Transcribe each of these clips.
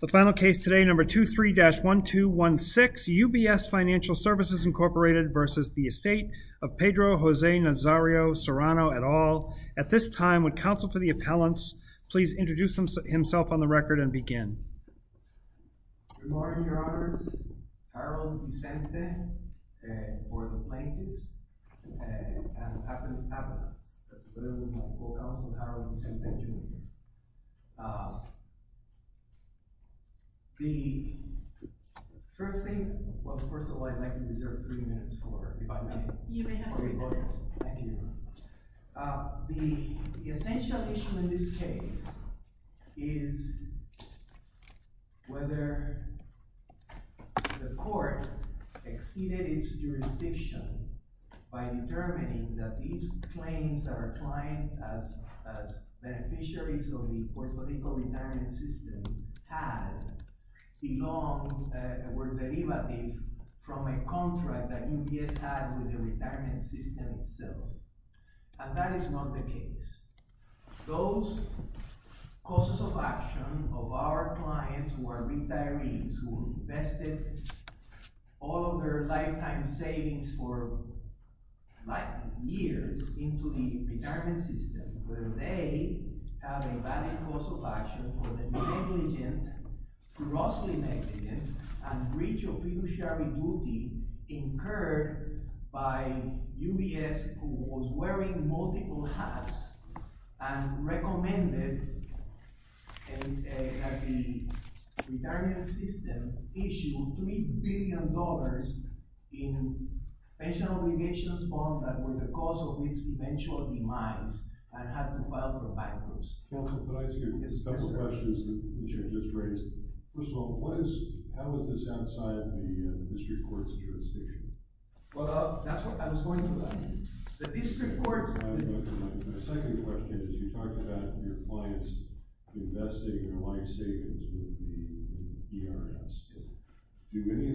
The final case today, number 23-1216 UBS Financial Services, Inc. v. Estate of Pedro Jose Nazario Serrano et al. At this time, would counsel for the appellants please introduce himself on the record and begin. Good morning, Your Honours. Harold Vicente, for the plaintiffs, and the appellants. That's what I'm going to call counsel Harold Vicente Jr. The first thing, well first of all I'd like to reserve three minutes for, if I may. You may have three minutes. Thank you. The essential issue in this case is whether the court exceeded its jurisdiction by determining that these claims are applying as beneficiaries of the Puerto Rico retirement system had belonged, were derivative from a contract that UBS had with the retirement system itself. And that is not the case. Those causes of action of our clients who are retirees, who invested all of their lifetime savings for years into the retirement system, where they have a valid cause of action for the negligent, grossly negligent, and breach of fiduciary duty incurred by UBS, who was wearing multiple hats and recommended that the retirement system issue $3 billion in pension obligations that were the cause of its eventual demise and had to file for bankruptcy. Counsel, could I ask you a couple questions that you just raised? First of all, how is this outside the district court's jurisdiction? Well, that's what I was going to ask. My second question is you talked about your clients investing their life savings with the ERS. Did any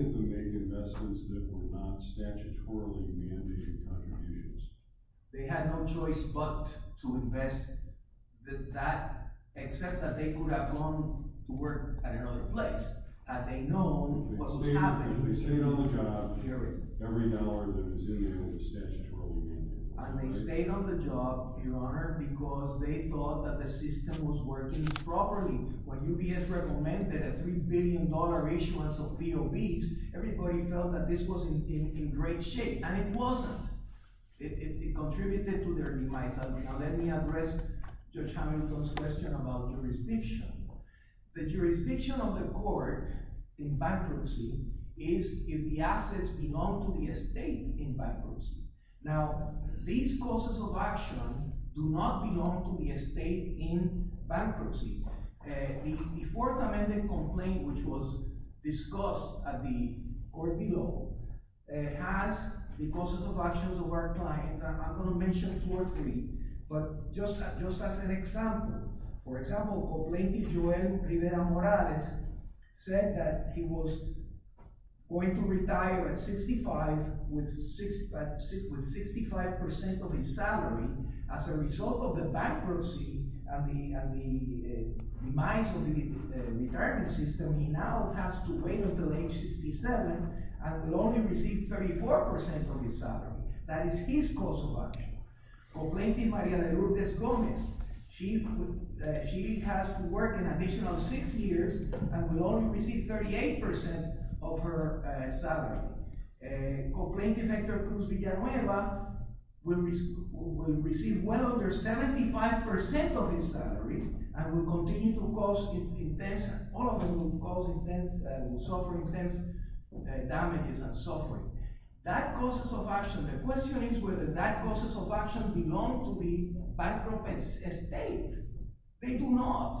of them make investments that were not statutorily mandated contributions? They had no choice but to invest that, except that they could have gone to work at another place. They stayed on the job. Every dollar that was in there was statutorily mandated. And they stayed on the job, Your Honor, because they thought that the system was working properly. When UBS recommended a $3 billion issuance of POBs, everybody felt that this was in great shape. And it wasn't. It contributed to their demise. Now let me address Judge Hamilton's question about jurisdiction. The jurisdiction of the court in bankruptcy is if the assets belong to the estate in bankruptcy. Now, these causes of action do not belong to the estate in bankruptcy. The Fourth Amendment complaint, which was discussed at the court below, has the causes of actions of our clients. I'm not going to mention two or three, but just as an example. For example, Complaintee Joel Rivera Morales said that he was going to retire at 65 with 65% of his salary. As a result of the bankruptcy and the demise of the retirement system, he now has to wait until age 67 and will only receive 34% of his salary. That is his cause of action. Complaintee Maria de Lourdes Gomez, she has to work an additional six years and will only receive 38% of her salary. Complaintee Hector Cruz Villanueva will receive well under 75% of his salary and will continue to cause intense suffering. That causes of action. The question is whether that causes of action belong to the bankrupt estate. They do not.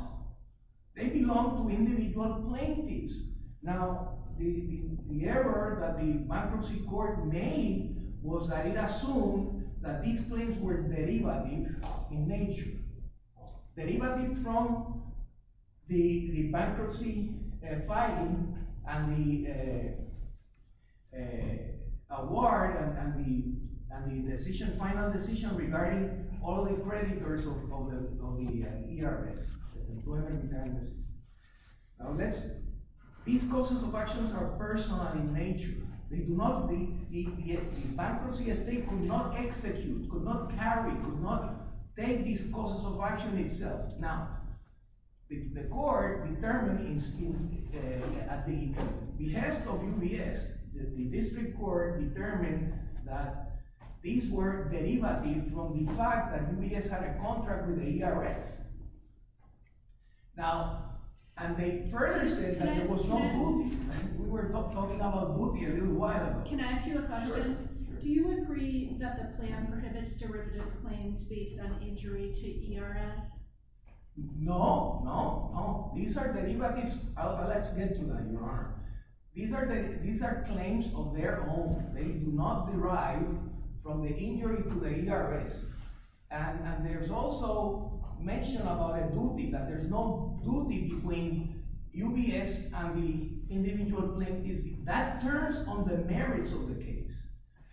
They belong to individual plaintiffs. Now, the error that the bankruptcy court made was that it assumed that these claims were derivative in nature. Derivative from the bankruptcy filing and the award and the final decision regarding all the creditors of the ERS, the employment retirement system. Now, let's see. These causes of actions are personal in nature. The bankruptcy estate could not execute, could not carry, could not take these causes of action itself. Now, the court determined at the behest of UBS, the district court determined that these were derivative from the fact that UBS had a contract with ERS. Now, and they further said that there was no duty. We were talking about duty a little while ago. Can I ask you a question? Do you agree that the plan prohibits derivative claims based on injury to ERS? No, no, no. These are derivatives. Let's get to that, Your Honor. These are claims of their own. They do not derive from the injury to the ERS. And there's also mention about a duty, that there's no duty between UBS and the individual plaintiffs. That turns on the merits of the case.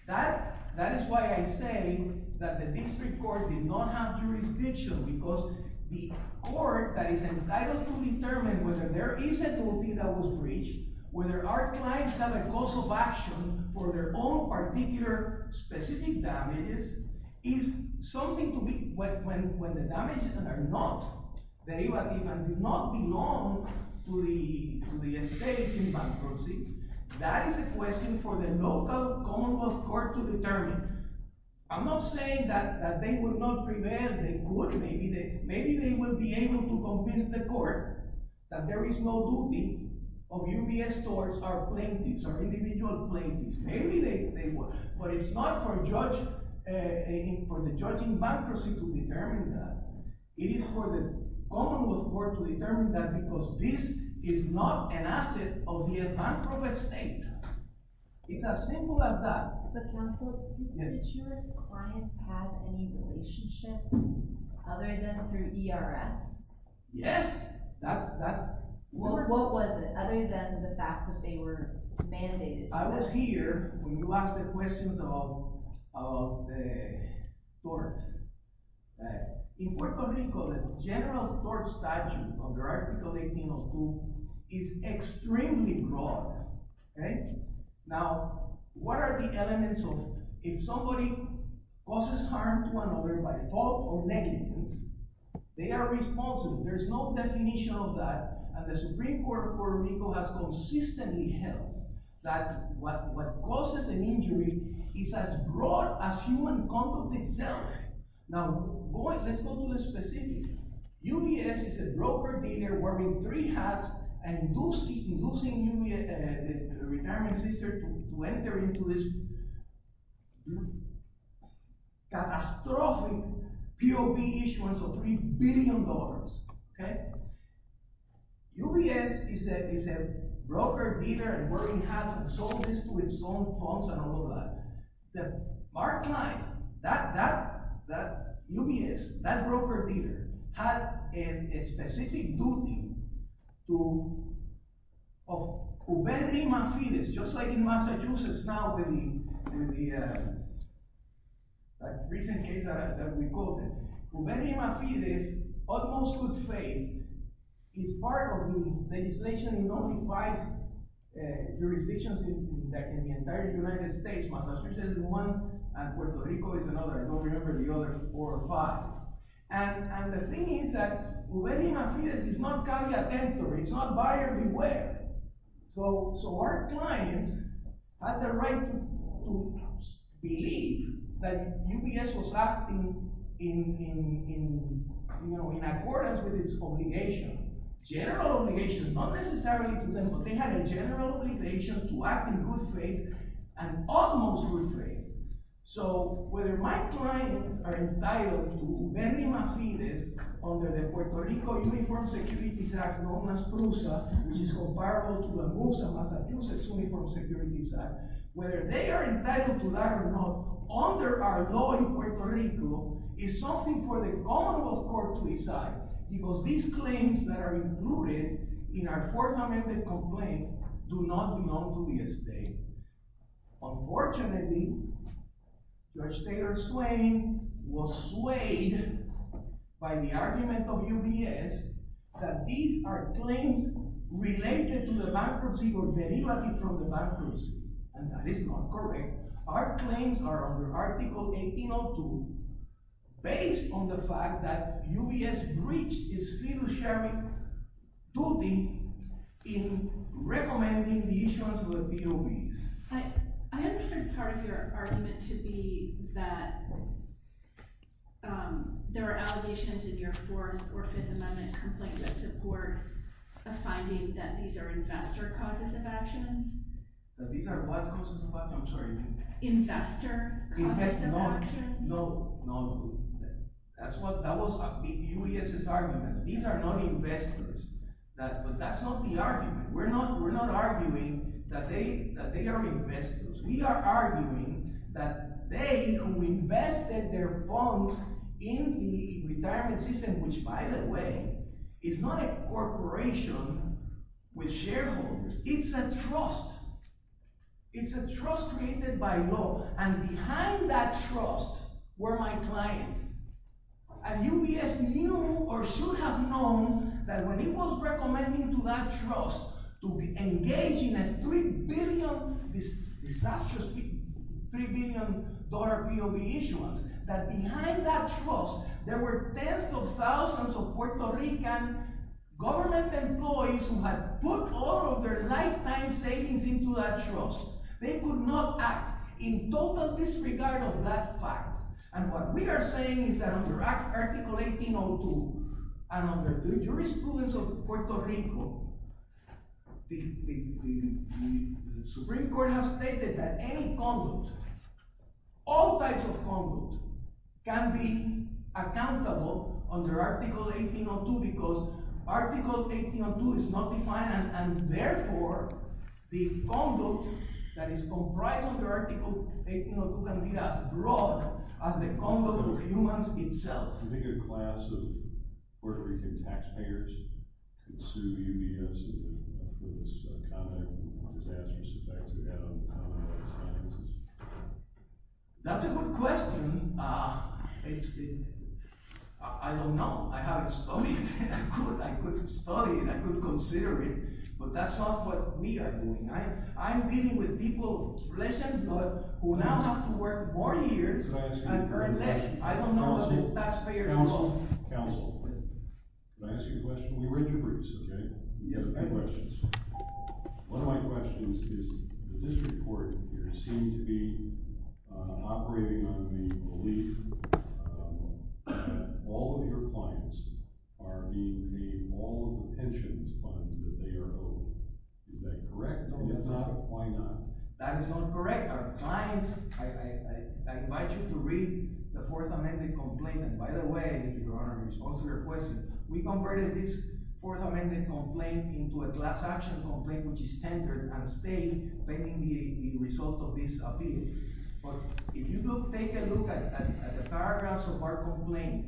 That is why I say that the district court did not have jurisdiction. Because the court that is entitled to determine whether there is a duty that was breached, whether our clients have a cause of action for their own particular specific damages, is something to be when the damages are not derivative and do not belong to the estate in bankruptcy. That is a question for the local commonwealth court to determine. I'm not saying that they will not prevail. They could. Maybe they will be able to convince the court that there is no duty of UBS towards our plaintiffs, our individual plaintiffs. But it's not for the judge in bankruptcy to determine that. It is for the commonwealth court to determine that because this is not an asset of the bankrupt estate. It's as simple as that. But counsel, did you and the clients have any relationship other than through ERS? Yes. What was it other than the fact that they were mandated? I was here when you asked the questions about the tort. In Puerto Rico, the general tort statute under Article 18.02 is extremely broad. Now, what are the elements of it? If somebody causes harm to another by fault or negligence, they are responsible. There's no definition of that. And the Supreme Court of Puerto Rico has consistently held that what causes an injury is as broad as human conduct itself. Now, boy, let's go to the specifics. UBS is a broker dealer wearing three hats and inducing the retirement sister to enter into this catastrophic POB issuance of $3 billion. Okay? UBS is a broker dealer and wearing hats and sold this to his own funds and all of that. Our clients, that UBS, that broker dealer, had a specific duty of Uberri Manfides, just like in Massachusetts now with the recent case that we called it. Uberri Manfides almost would fail. It's part of the legislation in only five jurisdictions in the entire United States. Massachusetts is one, and Puerto Rico is another. I don't remember the other four or five. And the thing is that Uberri Manfides is not carrier-attemptor. It's not buyer-beware. So our clients had the right to believe that UBS was acting in accordance with its obligation, general obligation, not necessarily to them, but they had a general obligation to act in good faith and almost good faith. So whether my clients are entitled to Uberri Manfides under the Puerto Rico Uniform Security Act, known as PRUSA, which is comparable to the MUSA, Massachusetts Uniform Security Act, whether they are entitled to that or not, under our law in Puerto Rico, is something for the Commonwealth Court to decide. Because these claims that are included in our Fourth Amendment complaint do not belong to the state. Unfortunately, Judge Taylor Swain was swayed by the argument of UBS that these are claims related to the bankruptcy or derivative from the bankruptcy. And that is not correct. Our claims are under Article 1802, based on the fact that UBS breached its fiduciary duty in recommending the issuance of the DOEs. I understood part of your argument to be that there are allegations in your Fourth or Fifth Amendment complaint that support the finding that these are investor causes of actions. That these are what causes of actions? I'm sorry. Investor causes of actions. No, no. That was UBS's argument. These are not investors. But that's not the argument. We're not arguing that they are investors. We are arguing that they who invested their funds in the retirement system, which, by the way, is not a corporation with shareholders. It's a trust. It's a trust created by law. And behind that trust were my clients. And UBS knew, or should have known, that when it was recommending to that trust to engage in a $3 billion DOE issuance, that behind that trust there were tens of thousands of Puerto Rican government employees who had put all of their lifetime savings into that trust. They could not act in total disregard of that fact. And what we are saying is that under Article 1802 and under the jurisprudence of Puerto Rico, the Supreme Court has stated that any conduct, all types of conduct, can be accountable under Article 1802 because Article 1802 is not defined and, therefore, the conduct that is comprised under Article 1802 can be as broad as the conduct of humans itself. Do you think a class of Puerto Rican taxpayers could sue UBS for this comment on disastrous effects it had on human sciences? That's a good question. I don't know. I haven't studied it. I could study it. I could consider it. But that's not what we are doing. I'm dealing with people, pleasant, but who now have to work four years and earn less. I don't know what the taxpayers will say. Counsel. Counsel. Can I ask you a question? We read your briefs, okay? Yes. I have questions. One of my questions is the district court here seems to be operating on the belief that all of your clients are being paid all of the pensions funds that they are owed. Is that correct? No, it's not. Why not? That is not correct. Our clients – I invite you to read the Fourth Amendment complaint. By the way, in response to your question, we converted this Fourth Amendment complaint into a class action complaint, which is standard and state pending the result of this appeal. If you take a look at the paragraphs of our complaint,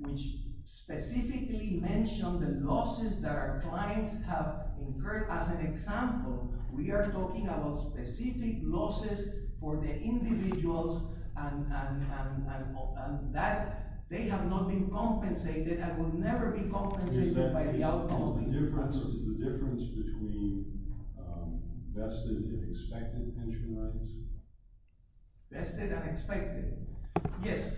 which specifically mention the losses that our clients have incurred, as an example, we are talking about specific losses for the individuals and that they have not been compensated and will never be compensated by the outcome. Is the difference between vested and expected pension funds? Vested and expected. Yes.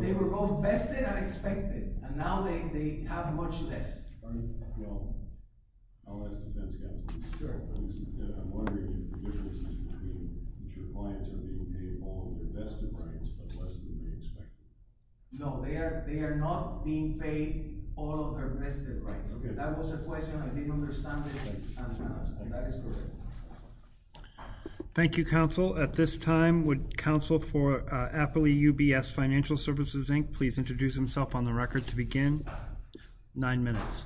They were both vested and expected, and now they have much less. All right. Well, I'll ask the defense counsel. Sure. I'm wondering if the difference is between that your clients are being paid all of their vested rights but less than they expected. No, they are not being paid all of their vested rights. That was the question. I didn't understand it. That is correct. Thank you, counsel. At this time, would counsel for Appley UBS Financial Services, Inc. please introduce himself on the record to begin? Nine minutes.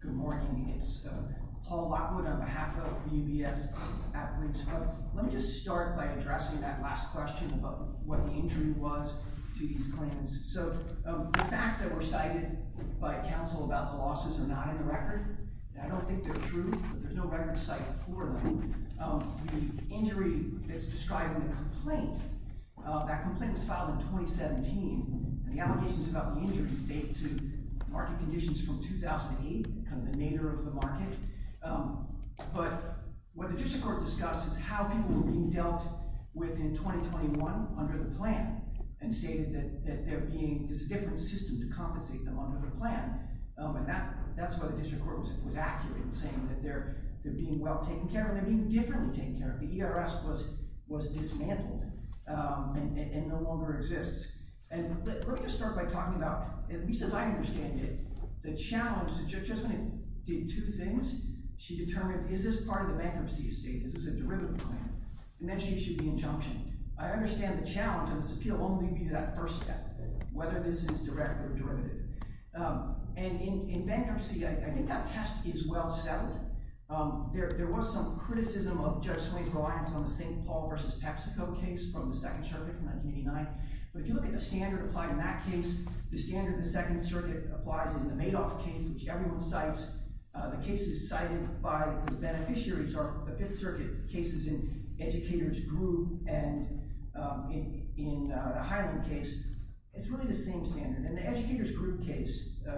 Good morning. It's Paul Lockwood on behalf of UBS. Let me just start by addressing that last question about what the injury was to these claims. So the facts that were cited by counsel about the losses are not in the record. I don't think they're true, but there's no record cited for them. The injury is described in the complaint. That complaint was filed in 2017. The allegations about the injury date to market conditions from 2008, kind of the nadir of the market. But what the district court discussed is how people were being dealt with in 2021 under the plan and stated that there's a different system to compensate them under the plan. And that's why the district court was accurate in saying that they're being well taken care of and they're being differently taken care of. The ERS was dismantled and no longer exists. And let me just start by talking about, at least as I understand it, the challenge. The judge just went and did two things. She determined, is this part of the bankruptcy estate? Is this a derivative claim? And then she issued the injunction. I understand the challenge, and this appeal won't lead me to that first step, whether this is direct or derivative. And in bankruptcy, I think that test is well settled. There was some criticism of Judge Swain's reliance on the St. Paul v. Pepsico case from the Second Circuit from 1989. But if you look at the standard applied in that case, the standard in the Second Circuit applies in the Madoff case, which everyone cites. The cases cited by its beneficiaries are the Fifth Circuit cases in Educators Group and in the Highland case. It's really the same standard. And the Educators Group case,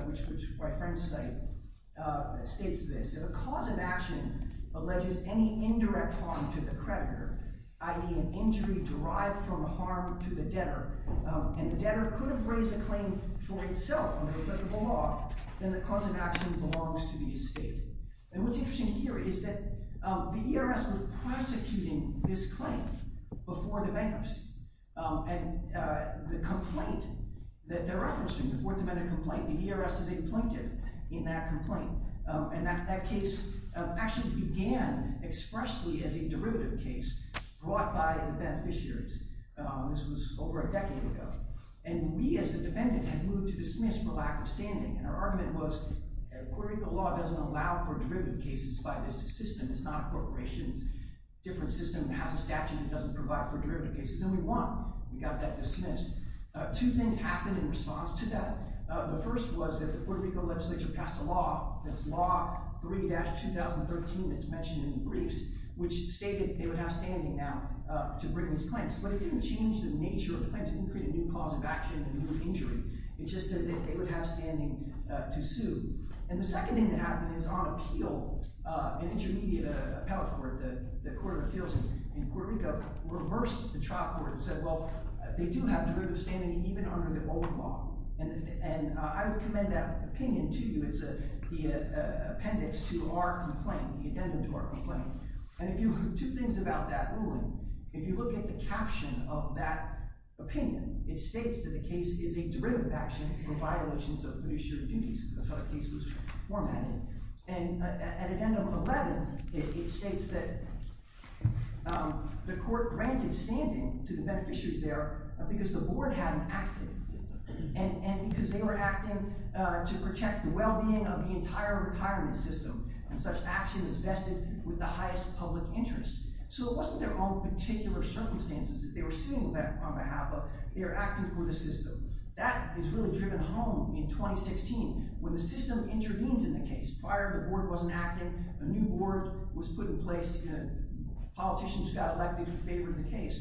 which my friends cite, states this. If a cause of action alleges any indirect harm to the creditor, i.e. an injury derived from harm to the debtor, and the debtor could have raised a claim for itself under applicable law, then the cause of action belongs to the estate. And what's interesting here is that the ERS was prosecuting this claim before the bankruptcy. And the complaint that they're referencing, the Fourth Amendment complaint, the ERS is a plaintiff in that complaint. And that case actually began expressly as a derivative case brought by the beneficiaries. This was over a decade ago. And we as the defendant had moved to dismiss for lack of standing. And our argument was Puerto Rico law doesn't allow for derivative cases by this system. It's not a corporation's different system that has a statute that doesn't provide for derivative cases. And we won. We got that dismissed. Two things happened in response to that. The first was that the Puerto Rico legislature passed a law. That's Law 3-2013 that's mentioned in the briefs, which stated they would have standing now to bring these claims. But it didn't change the nature of the claim. It didn't create a new cause of action, a new injury. It just said that they would have standing to sue. And the second thing that happened is on appeal, an intermediate appellate court, the Court of Appeals in Puerto Rico, reversed the trial court and said, well, they do have derivative standing even under the old law. And I would commend that opinion to you. It's the appendix to our complaint, the addendum to our complaint. And if you – two things about that ruling. If you look at the caption of that opinion, it states that the case is a derivative action for violations of fiduciary duties. That's how the case was formatted. And at addendum 11, it states that the court granted standing to the beneficiaries there because the board hadn't acted. And because they were acting to protect the well-being of the entire retirement system. Such action is vested with the highest public interest. So it wasn't their own particular circumstances that they were sitting on behalf of. They were acting for the system. That is really driven home in 2016 when the system intervenes in the case. Prior, the board wasn't acting. A new board was put in place. Politicians got elected in favor of the case.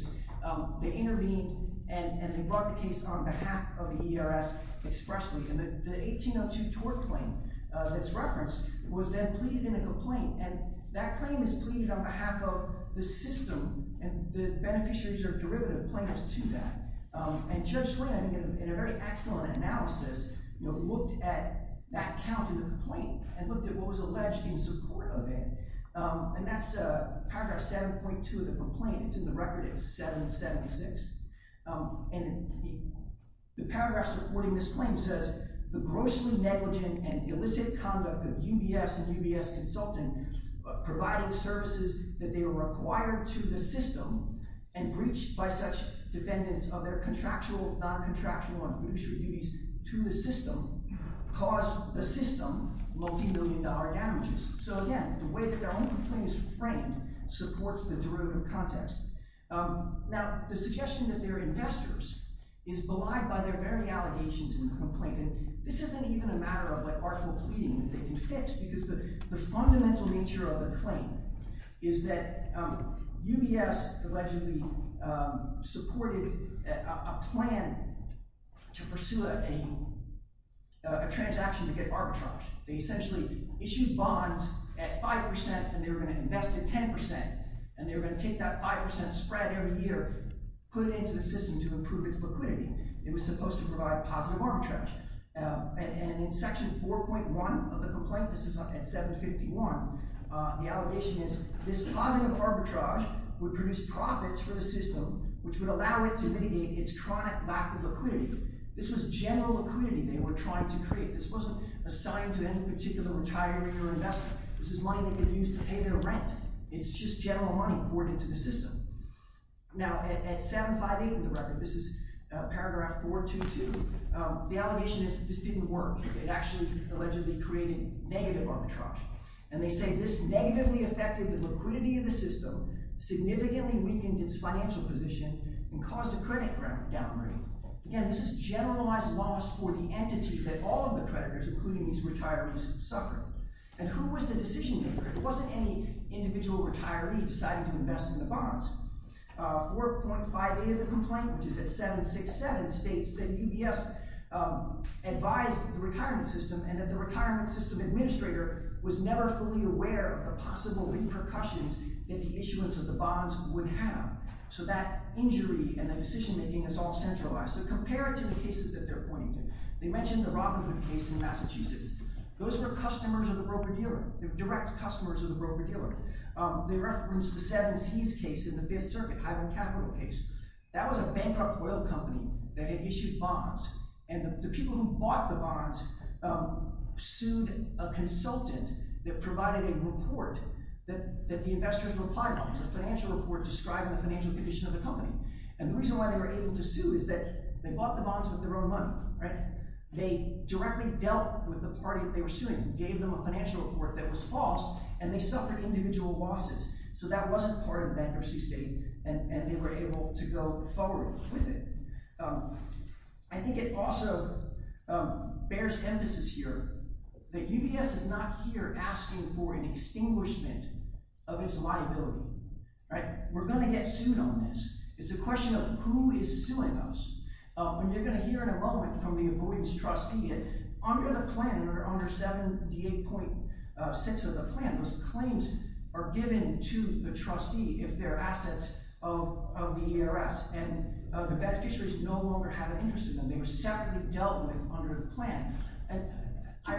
They intervened, and they brought the case on behalf of the ERS expressly. And the 1802 tort claim that's referenced was then pleaded in a complaint. And that claim is pleaded on behalf of the system, and the beneficiaries are derivative claims to that. And Judge Wren, in a very excellent analysis, looked at that count in the complaint and looked at what was alleged in support of it. And that's paragraph 7.2 of the complaint. It's in the record. It's 776. And the paragraph supporting this claim says, The grossly negligent and illicit conduct of UBS and UBS consultant providing services that they were required to the system and breached by such defendants of their contractual, non-contractual, and fiduciary duties to the system caused the system multimillion-dollar damages. So again, the way that their own complaint is framed supports the derivative context. Now, the suggestion that they're investors is belied by their very allegations in the complaint. And this isn't even a matter of what article of pleading that they can fix, because the fundamental nature of the claim is that UBS allegedly supported a plan to pursue a transaction to get arbitrage. They essentially issued bonds at 5% and they were going to invest at 10%, and they were going to take that 5% spread every year, put it into the system to improve its liquidity. It was supposed to provide positive arbitrage. And in section 4.1 of the complaint—this is at 751—the allegation is, This positive arbitrage would produce profits for the system, which would allow it to mitigate its chronic lack of liquidity. This was general liquidity they were trying to create. This wasn't assigned to any particular retiree or investor. This is money they could use to pay their rent. It's just general money poured into the system. Now, at 758 of the record—this is paragraph 422—the allegation is this didn't work. It actually allegedly created negative arbitrage. And they say, This negatively affected the liquidity of the system, significantly weakened its financial position, and caused a credit downgrade. Again, this is generalized loss for the entity that all of the creditors, including these retirees, suffered. And who was the decision-maker? It wasn't any individual retiree deciding to invest in the bonds. 4.58 of the complaint, which is at 767, states that UBS advised the retirement system and that the retirement system administrator was never fully aware of the possible repercussions that the issuance of the bonds would have. So that injury and the decision-making is all centralized. So compare it to the cases that they're pointing to. They mentioned the Robinhood case in Massachusetts. Those were customers of the broker-dealer, direct customers of the broker-dealer. They referenced the Seven Seas case in the Fifth Circuit, Highland Capital case. That was a bankrupt oil company that had issued bonds. And the people who bought the bonds sued a consultant that provided a report that the investors replied on. It was a financial report describing the financial condition of the company. And the reason why they were able to sue is that they bought the bonds with their own money. They directly dealt with the party that they were suing and gave them a financial report that was false, and they suffered individual losses. So that wasn't part of the bankruptcy state, and they were able to go forward with it. I think it also bears emphasis here that UBS is not here asking for an extinguishment of its liability. We're going to get sued on this. It's a question of who is suing us. And you're going to hear in a moment from the avoidance trustee that under the plan, under 7d8.6 of the plan, those claims are given to the trustee if they're assets of the ERS. And the beneficiaries no longer have an interest in them. They were separately dealt with under the plan.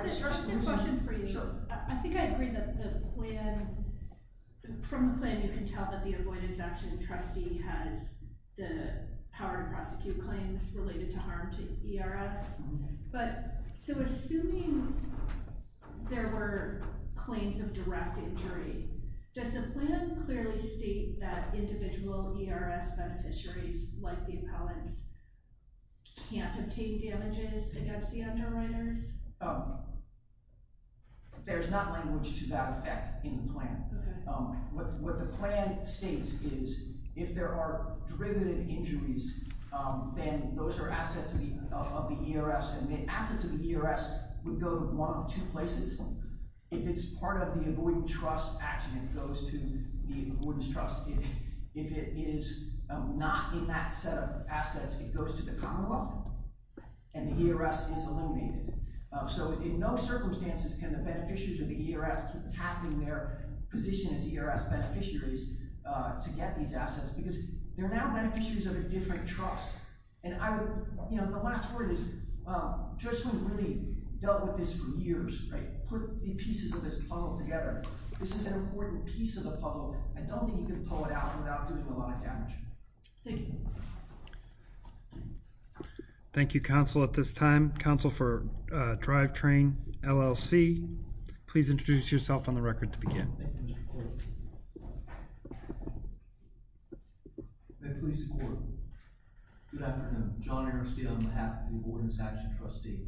Just a question for you. Sure. I think I agree that from the plan you can tell that the avoidance action trustee has the power to prosecute claims related to harm to ERS. Okay. But so assuming there were claims of direct injury, does the plan clearly state that individual ERS beneficiaries, like the appellants, can't obtain damages against the underwriters? Oh, there's not language to that effect in the plan. What the plan states is if there are derivative injuries, then those are assets of the ERS, and the assets of the ERS would go to one of two places. If it's part of the avoidance trust action, it goes to the avoidance trust. If it is not in that set of assets, it goes to the Commonwealth, and the ERS is eliminated. So in no circumstances can the beneficiaries of the ERS keep tapping their position as ERS beneficiaries to get these assets because they're now beneficiaries of a different trust. And I would – you know, the last word is Judge Smoot really dealt with this for years, right? Put the pieces of this puzzle together. This is an important piece of the puzzle. I don't think you can pull it out without doing a lot of damage. Thank you. Thank you, counsel, at this time. Counsel for Drivetrain, LLC, please introduce yourself on the record to begin. Thank you, Mr. Court. May it please the court. Good afternoon. John Ernst here on behalf of the avoidance action trustee.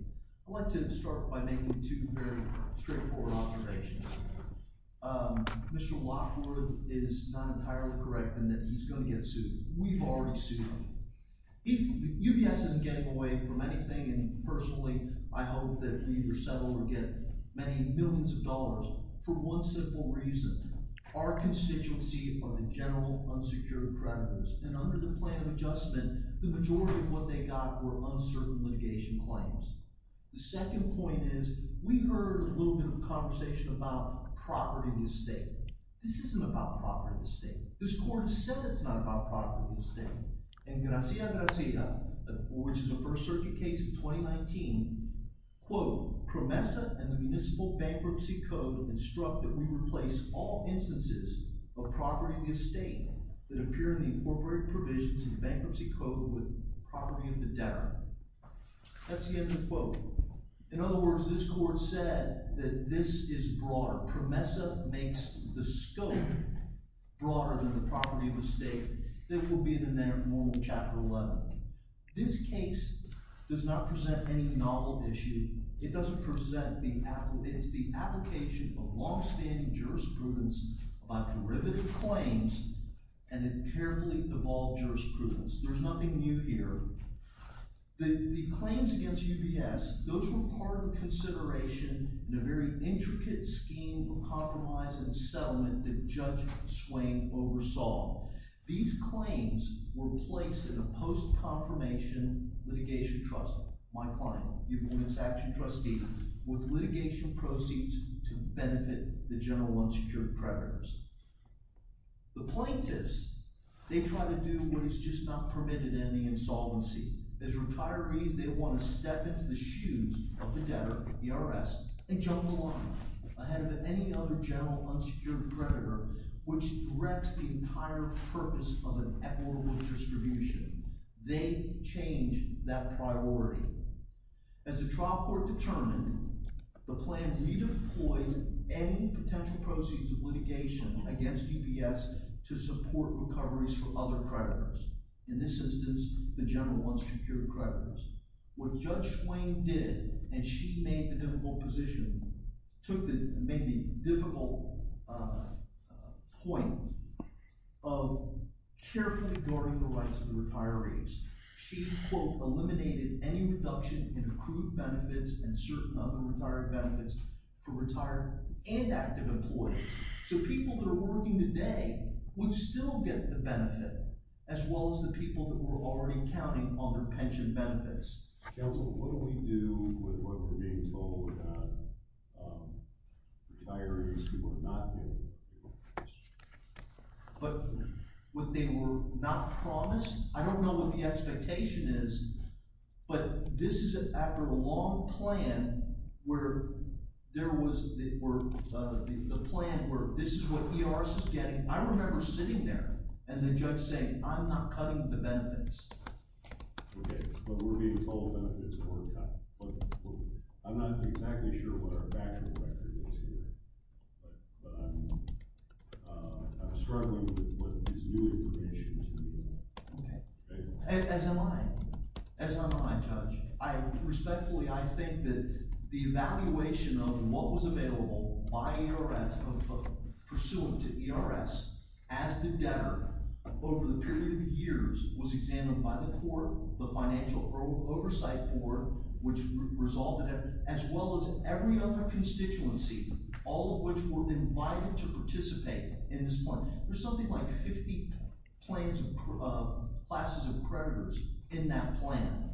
I'd like to start by making two very straightforward observations. Mr. Lockwood is not entirely correct in that he's going to get sued. We've already sued him. He's – UBS isn't getting away from anything, and personally, I hope that he either settles or gets many millions of dollars for one simple reason. Our constituency are the general unsecured creditors, and under the plan of adjustment, the majority of what they got were uncertain litigation claims. The second point is we heard a little bit of conversation about property and estate. This isn't about property and estate. This court has said it's not about property and estate. And Garcia-Garcia, which is a First Circuit case of 2019, quote, PROMESA and the Municipal Bankruptcy Code instruct that we replace all instances of property and estate that appear in the incorporated provisions of the bankruptcy code with property of the debtor. That's the end of the quote. In other words, this court said that this is broader. PROMESA makes the scope broader than the property of estate that would be in a normal Chapter 11. This case does not present any novel issue. It doesn't present the – it's the application of longstanding jurisprudence about derivative claims and a carefully evolved jurisprudence. There's nothing new here. The claims against UBS, those were part of consideration in a very intricate scheme of compromise and settlement that Judge Swain oversaw. These claims were placed in a post-confirmation litigation trust, my client, UBS Action Trustee, with litigation proceeds to benefit the general unsecured predators. The plaintiffs, they try to do what is just not permitted in the insolvency. As retirees, they want to step into the shoes of the debtor, the IRS, and jump the line ahead of any other general unsecured predator, which wrecks the entire purpose of an equitable distribution. They change that priority. As the trial court determined, the plaintiffs redeployed any potential proceeds of litigation against UBS to support recoveries for other predators. In this instance, the general unsecured predators. What Judge Swain did, and she made the difficult position, took the – made the difficult point of carefully guarding the rights of the retirees. She, quote, eliminated any reduction in accrued benefits and certain unretired benefits for retired and active employees. So people that are working today would still get the benefit, as well as the people that were already counting on their pension benefits. Counsel, what do we do with what we're being told about retirees who are not getting the benefits? But what they were not promised? I don't know what the expectation is, but this is after a long plan where there was – the plan where this is what the IRS is getting. I remember sitting there and the judge saying, I'm not cutting the benefits. Okay, but we're being told that it's a shortcut. But I'm not exactly sure what our factual record is here, but I'm struggling with what is new information to do with that. Okay. As am I. As am I, Judge. Respectfully, I think that the evaluation of what was available by the IRS, pursuant to the IRS, as the debtor over the period of years, was examined by the court, the financial oversight board, which resolved it, as well as every other constituency, all of which were invited to participate in this plan. There's something like 50 classes of creditors in that plan.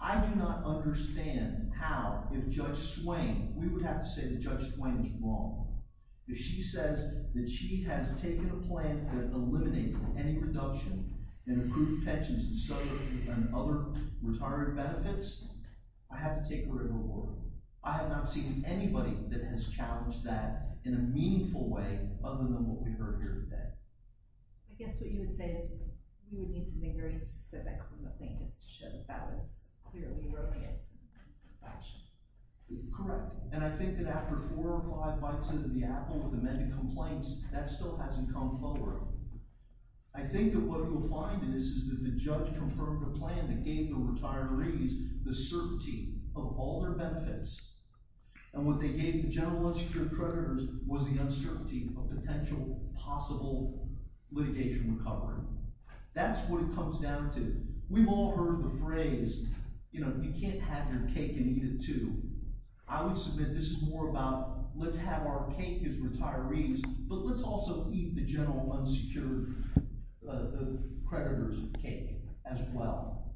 I do not understand how, if Judge Swain – we would have to say that Judge Swain is wrong. If she says that she has taken a plan that eliminated any reduction in approved pensions and other retiree benefits, I have to take her into court. I have not seen anybody that has challenged that in a meaningful way, other than what we heard here today. I guess what you would say is you would need something very specific from the plaintiffs to show that that was clearly erroneous in some fashion. Correct. And I think that after four or five bites into the apple with amended complaints, that still hasn't come forward. I think that what you'll find is that the judge confirmed a plan that gave the retirees the certainty of all their benefits, and what they gave the general unsecured creditors was the uncertainty of potential possible litigation recovery. That's what it comes down to. We've all heard the phrase, you know, you can't have your cake and eat it too. I would submit this is more about let's have our cake as retirees, but let's also eat the general unsecured creditors' cake as well.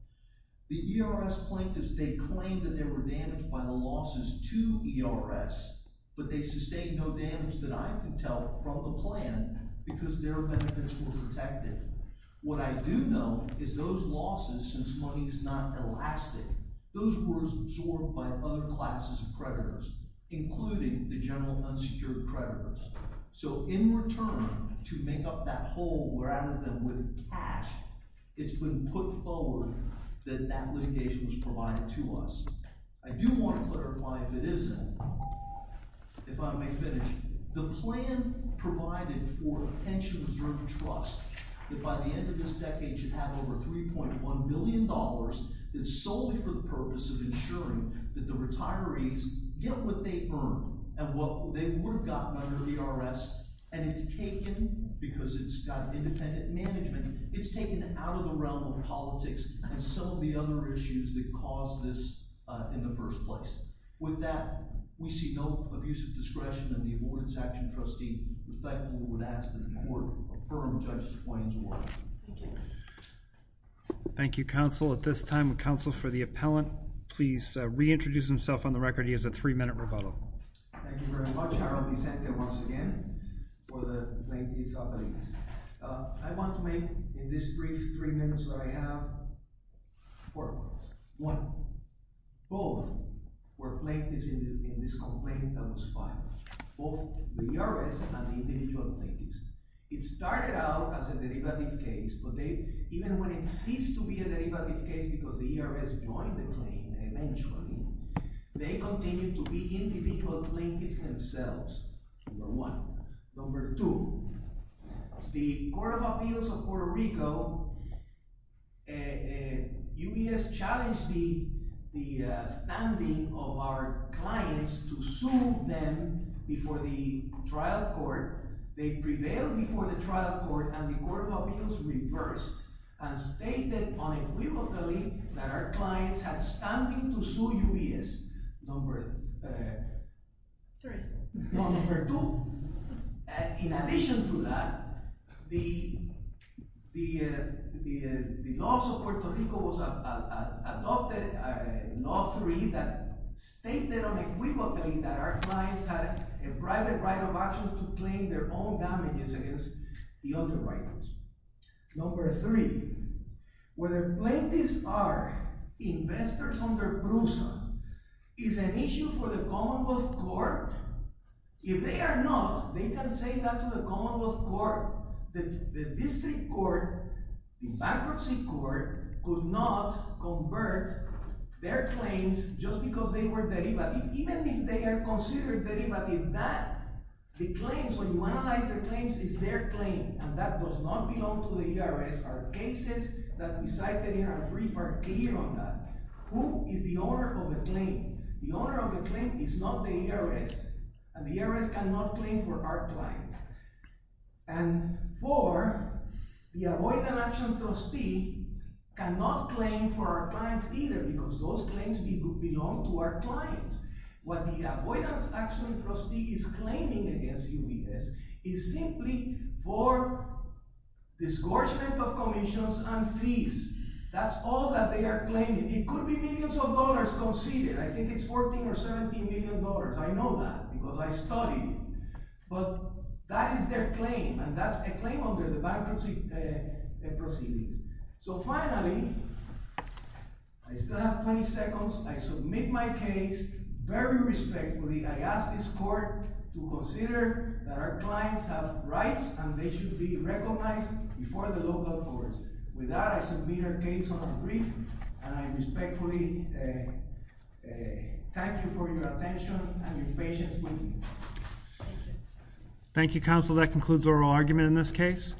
The ERS plaintiffs, they claimed that they were damaged by the losses to ERS, but they sustained no damage that I can tell from the plan because their benefits were protected. What I do know is those losses, since money is not elastic, those were absorbed by other classes of creditors, including the general unsecured creditors. So in return to make up that hole, we're out of them with cash. It's been put forward that that litigation was provided to us. I do want to clarify if it isn't. If I may finish. The plan provided for a pension reserve trust that by the end of this decade should have over $3.1 billion that's solely for the purpose of ensuring that the retirees get what they earn and what they would have gotten under ERS. And it's taken, because it's got independent management, it's taken out of the realm of politics and some of the other issues that caused this in the first place. With that, we see no abuse of discretion, and the Abordance Action Trustee, respectfully, would ask that the Court affirm Judge Swain's order. Thank you. Thank you, Counsel. At this time, Counsel for the Appellant, please reintroduce himself on the record. He has a three-minute rebuttal. Thank you very much, Harold Vicente, once again, for the plaintiff appellees. I want to make, in this brief three minutes that I have, four points. One, both were plaintiffs in this complaint that was filed, both the ERS and the individual plaintiffs. It started out as a derivative case, but even when it ceased to be a derivative case because the ERS joined the claim eventually, they continued to be individual plaintiffs themselves, number one. It failed before the trial court, and the Court of Appeals reversed and stated unequivocally that our clients had standing to sue UBS, number three. No, number two. In addition to that, the laws of Puerto Rico adopted law three that stated unequivocally that our clients had a private right of action to claim their own damages against the underwriters. Number three, whether plaintiffs are investors under BRUSA is an issue for the commonwealth court. If they are not, they can say that to the commonwealth court. The district court, the bankruptcy court could not convert their claims just because they were derivative. Even if they are considered derivative, the claims, when you analyze the claims, it's their claim, and that does not belong to the ERS. Our cases that we cited in our brief are clear on that. Who is the owner of the claim? The owner of the claim is not the ERS, and the ERS cannot claim for our clients. And four, the avoidance action trustee cannot claim for our clients either because those claims belong to our clients. What the avoidance action trustee is claiming against UBS is simply for disgorgement of commissions and fees. That's all that they are claiming. It could be millions of dollars conceded. I think it's $14 or $17 million. I know that because I studied. But that is their claim, and that's a claim under the bankruptcy proceedings. So finally, I still have 20 seconds. I submit my case very respectfully. I ask this court to consider that our clients have rights, and they should be recognized before the local courts. With that, I submit our case on our brief, and I respectfully thank you for your attention and your patience with me. Thank you, counsel. That concludes oral argument in this case.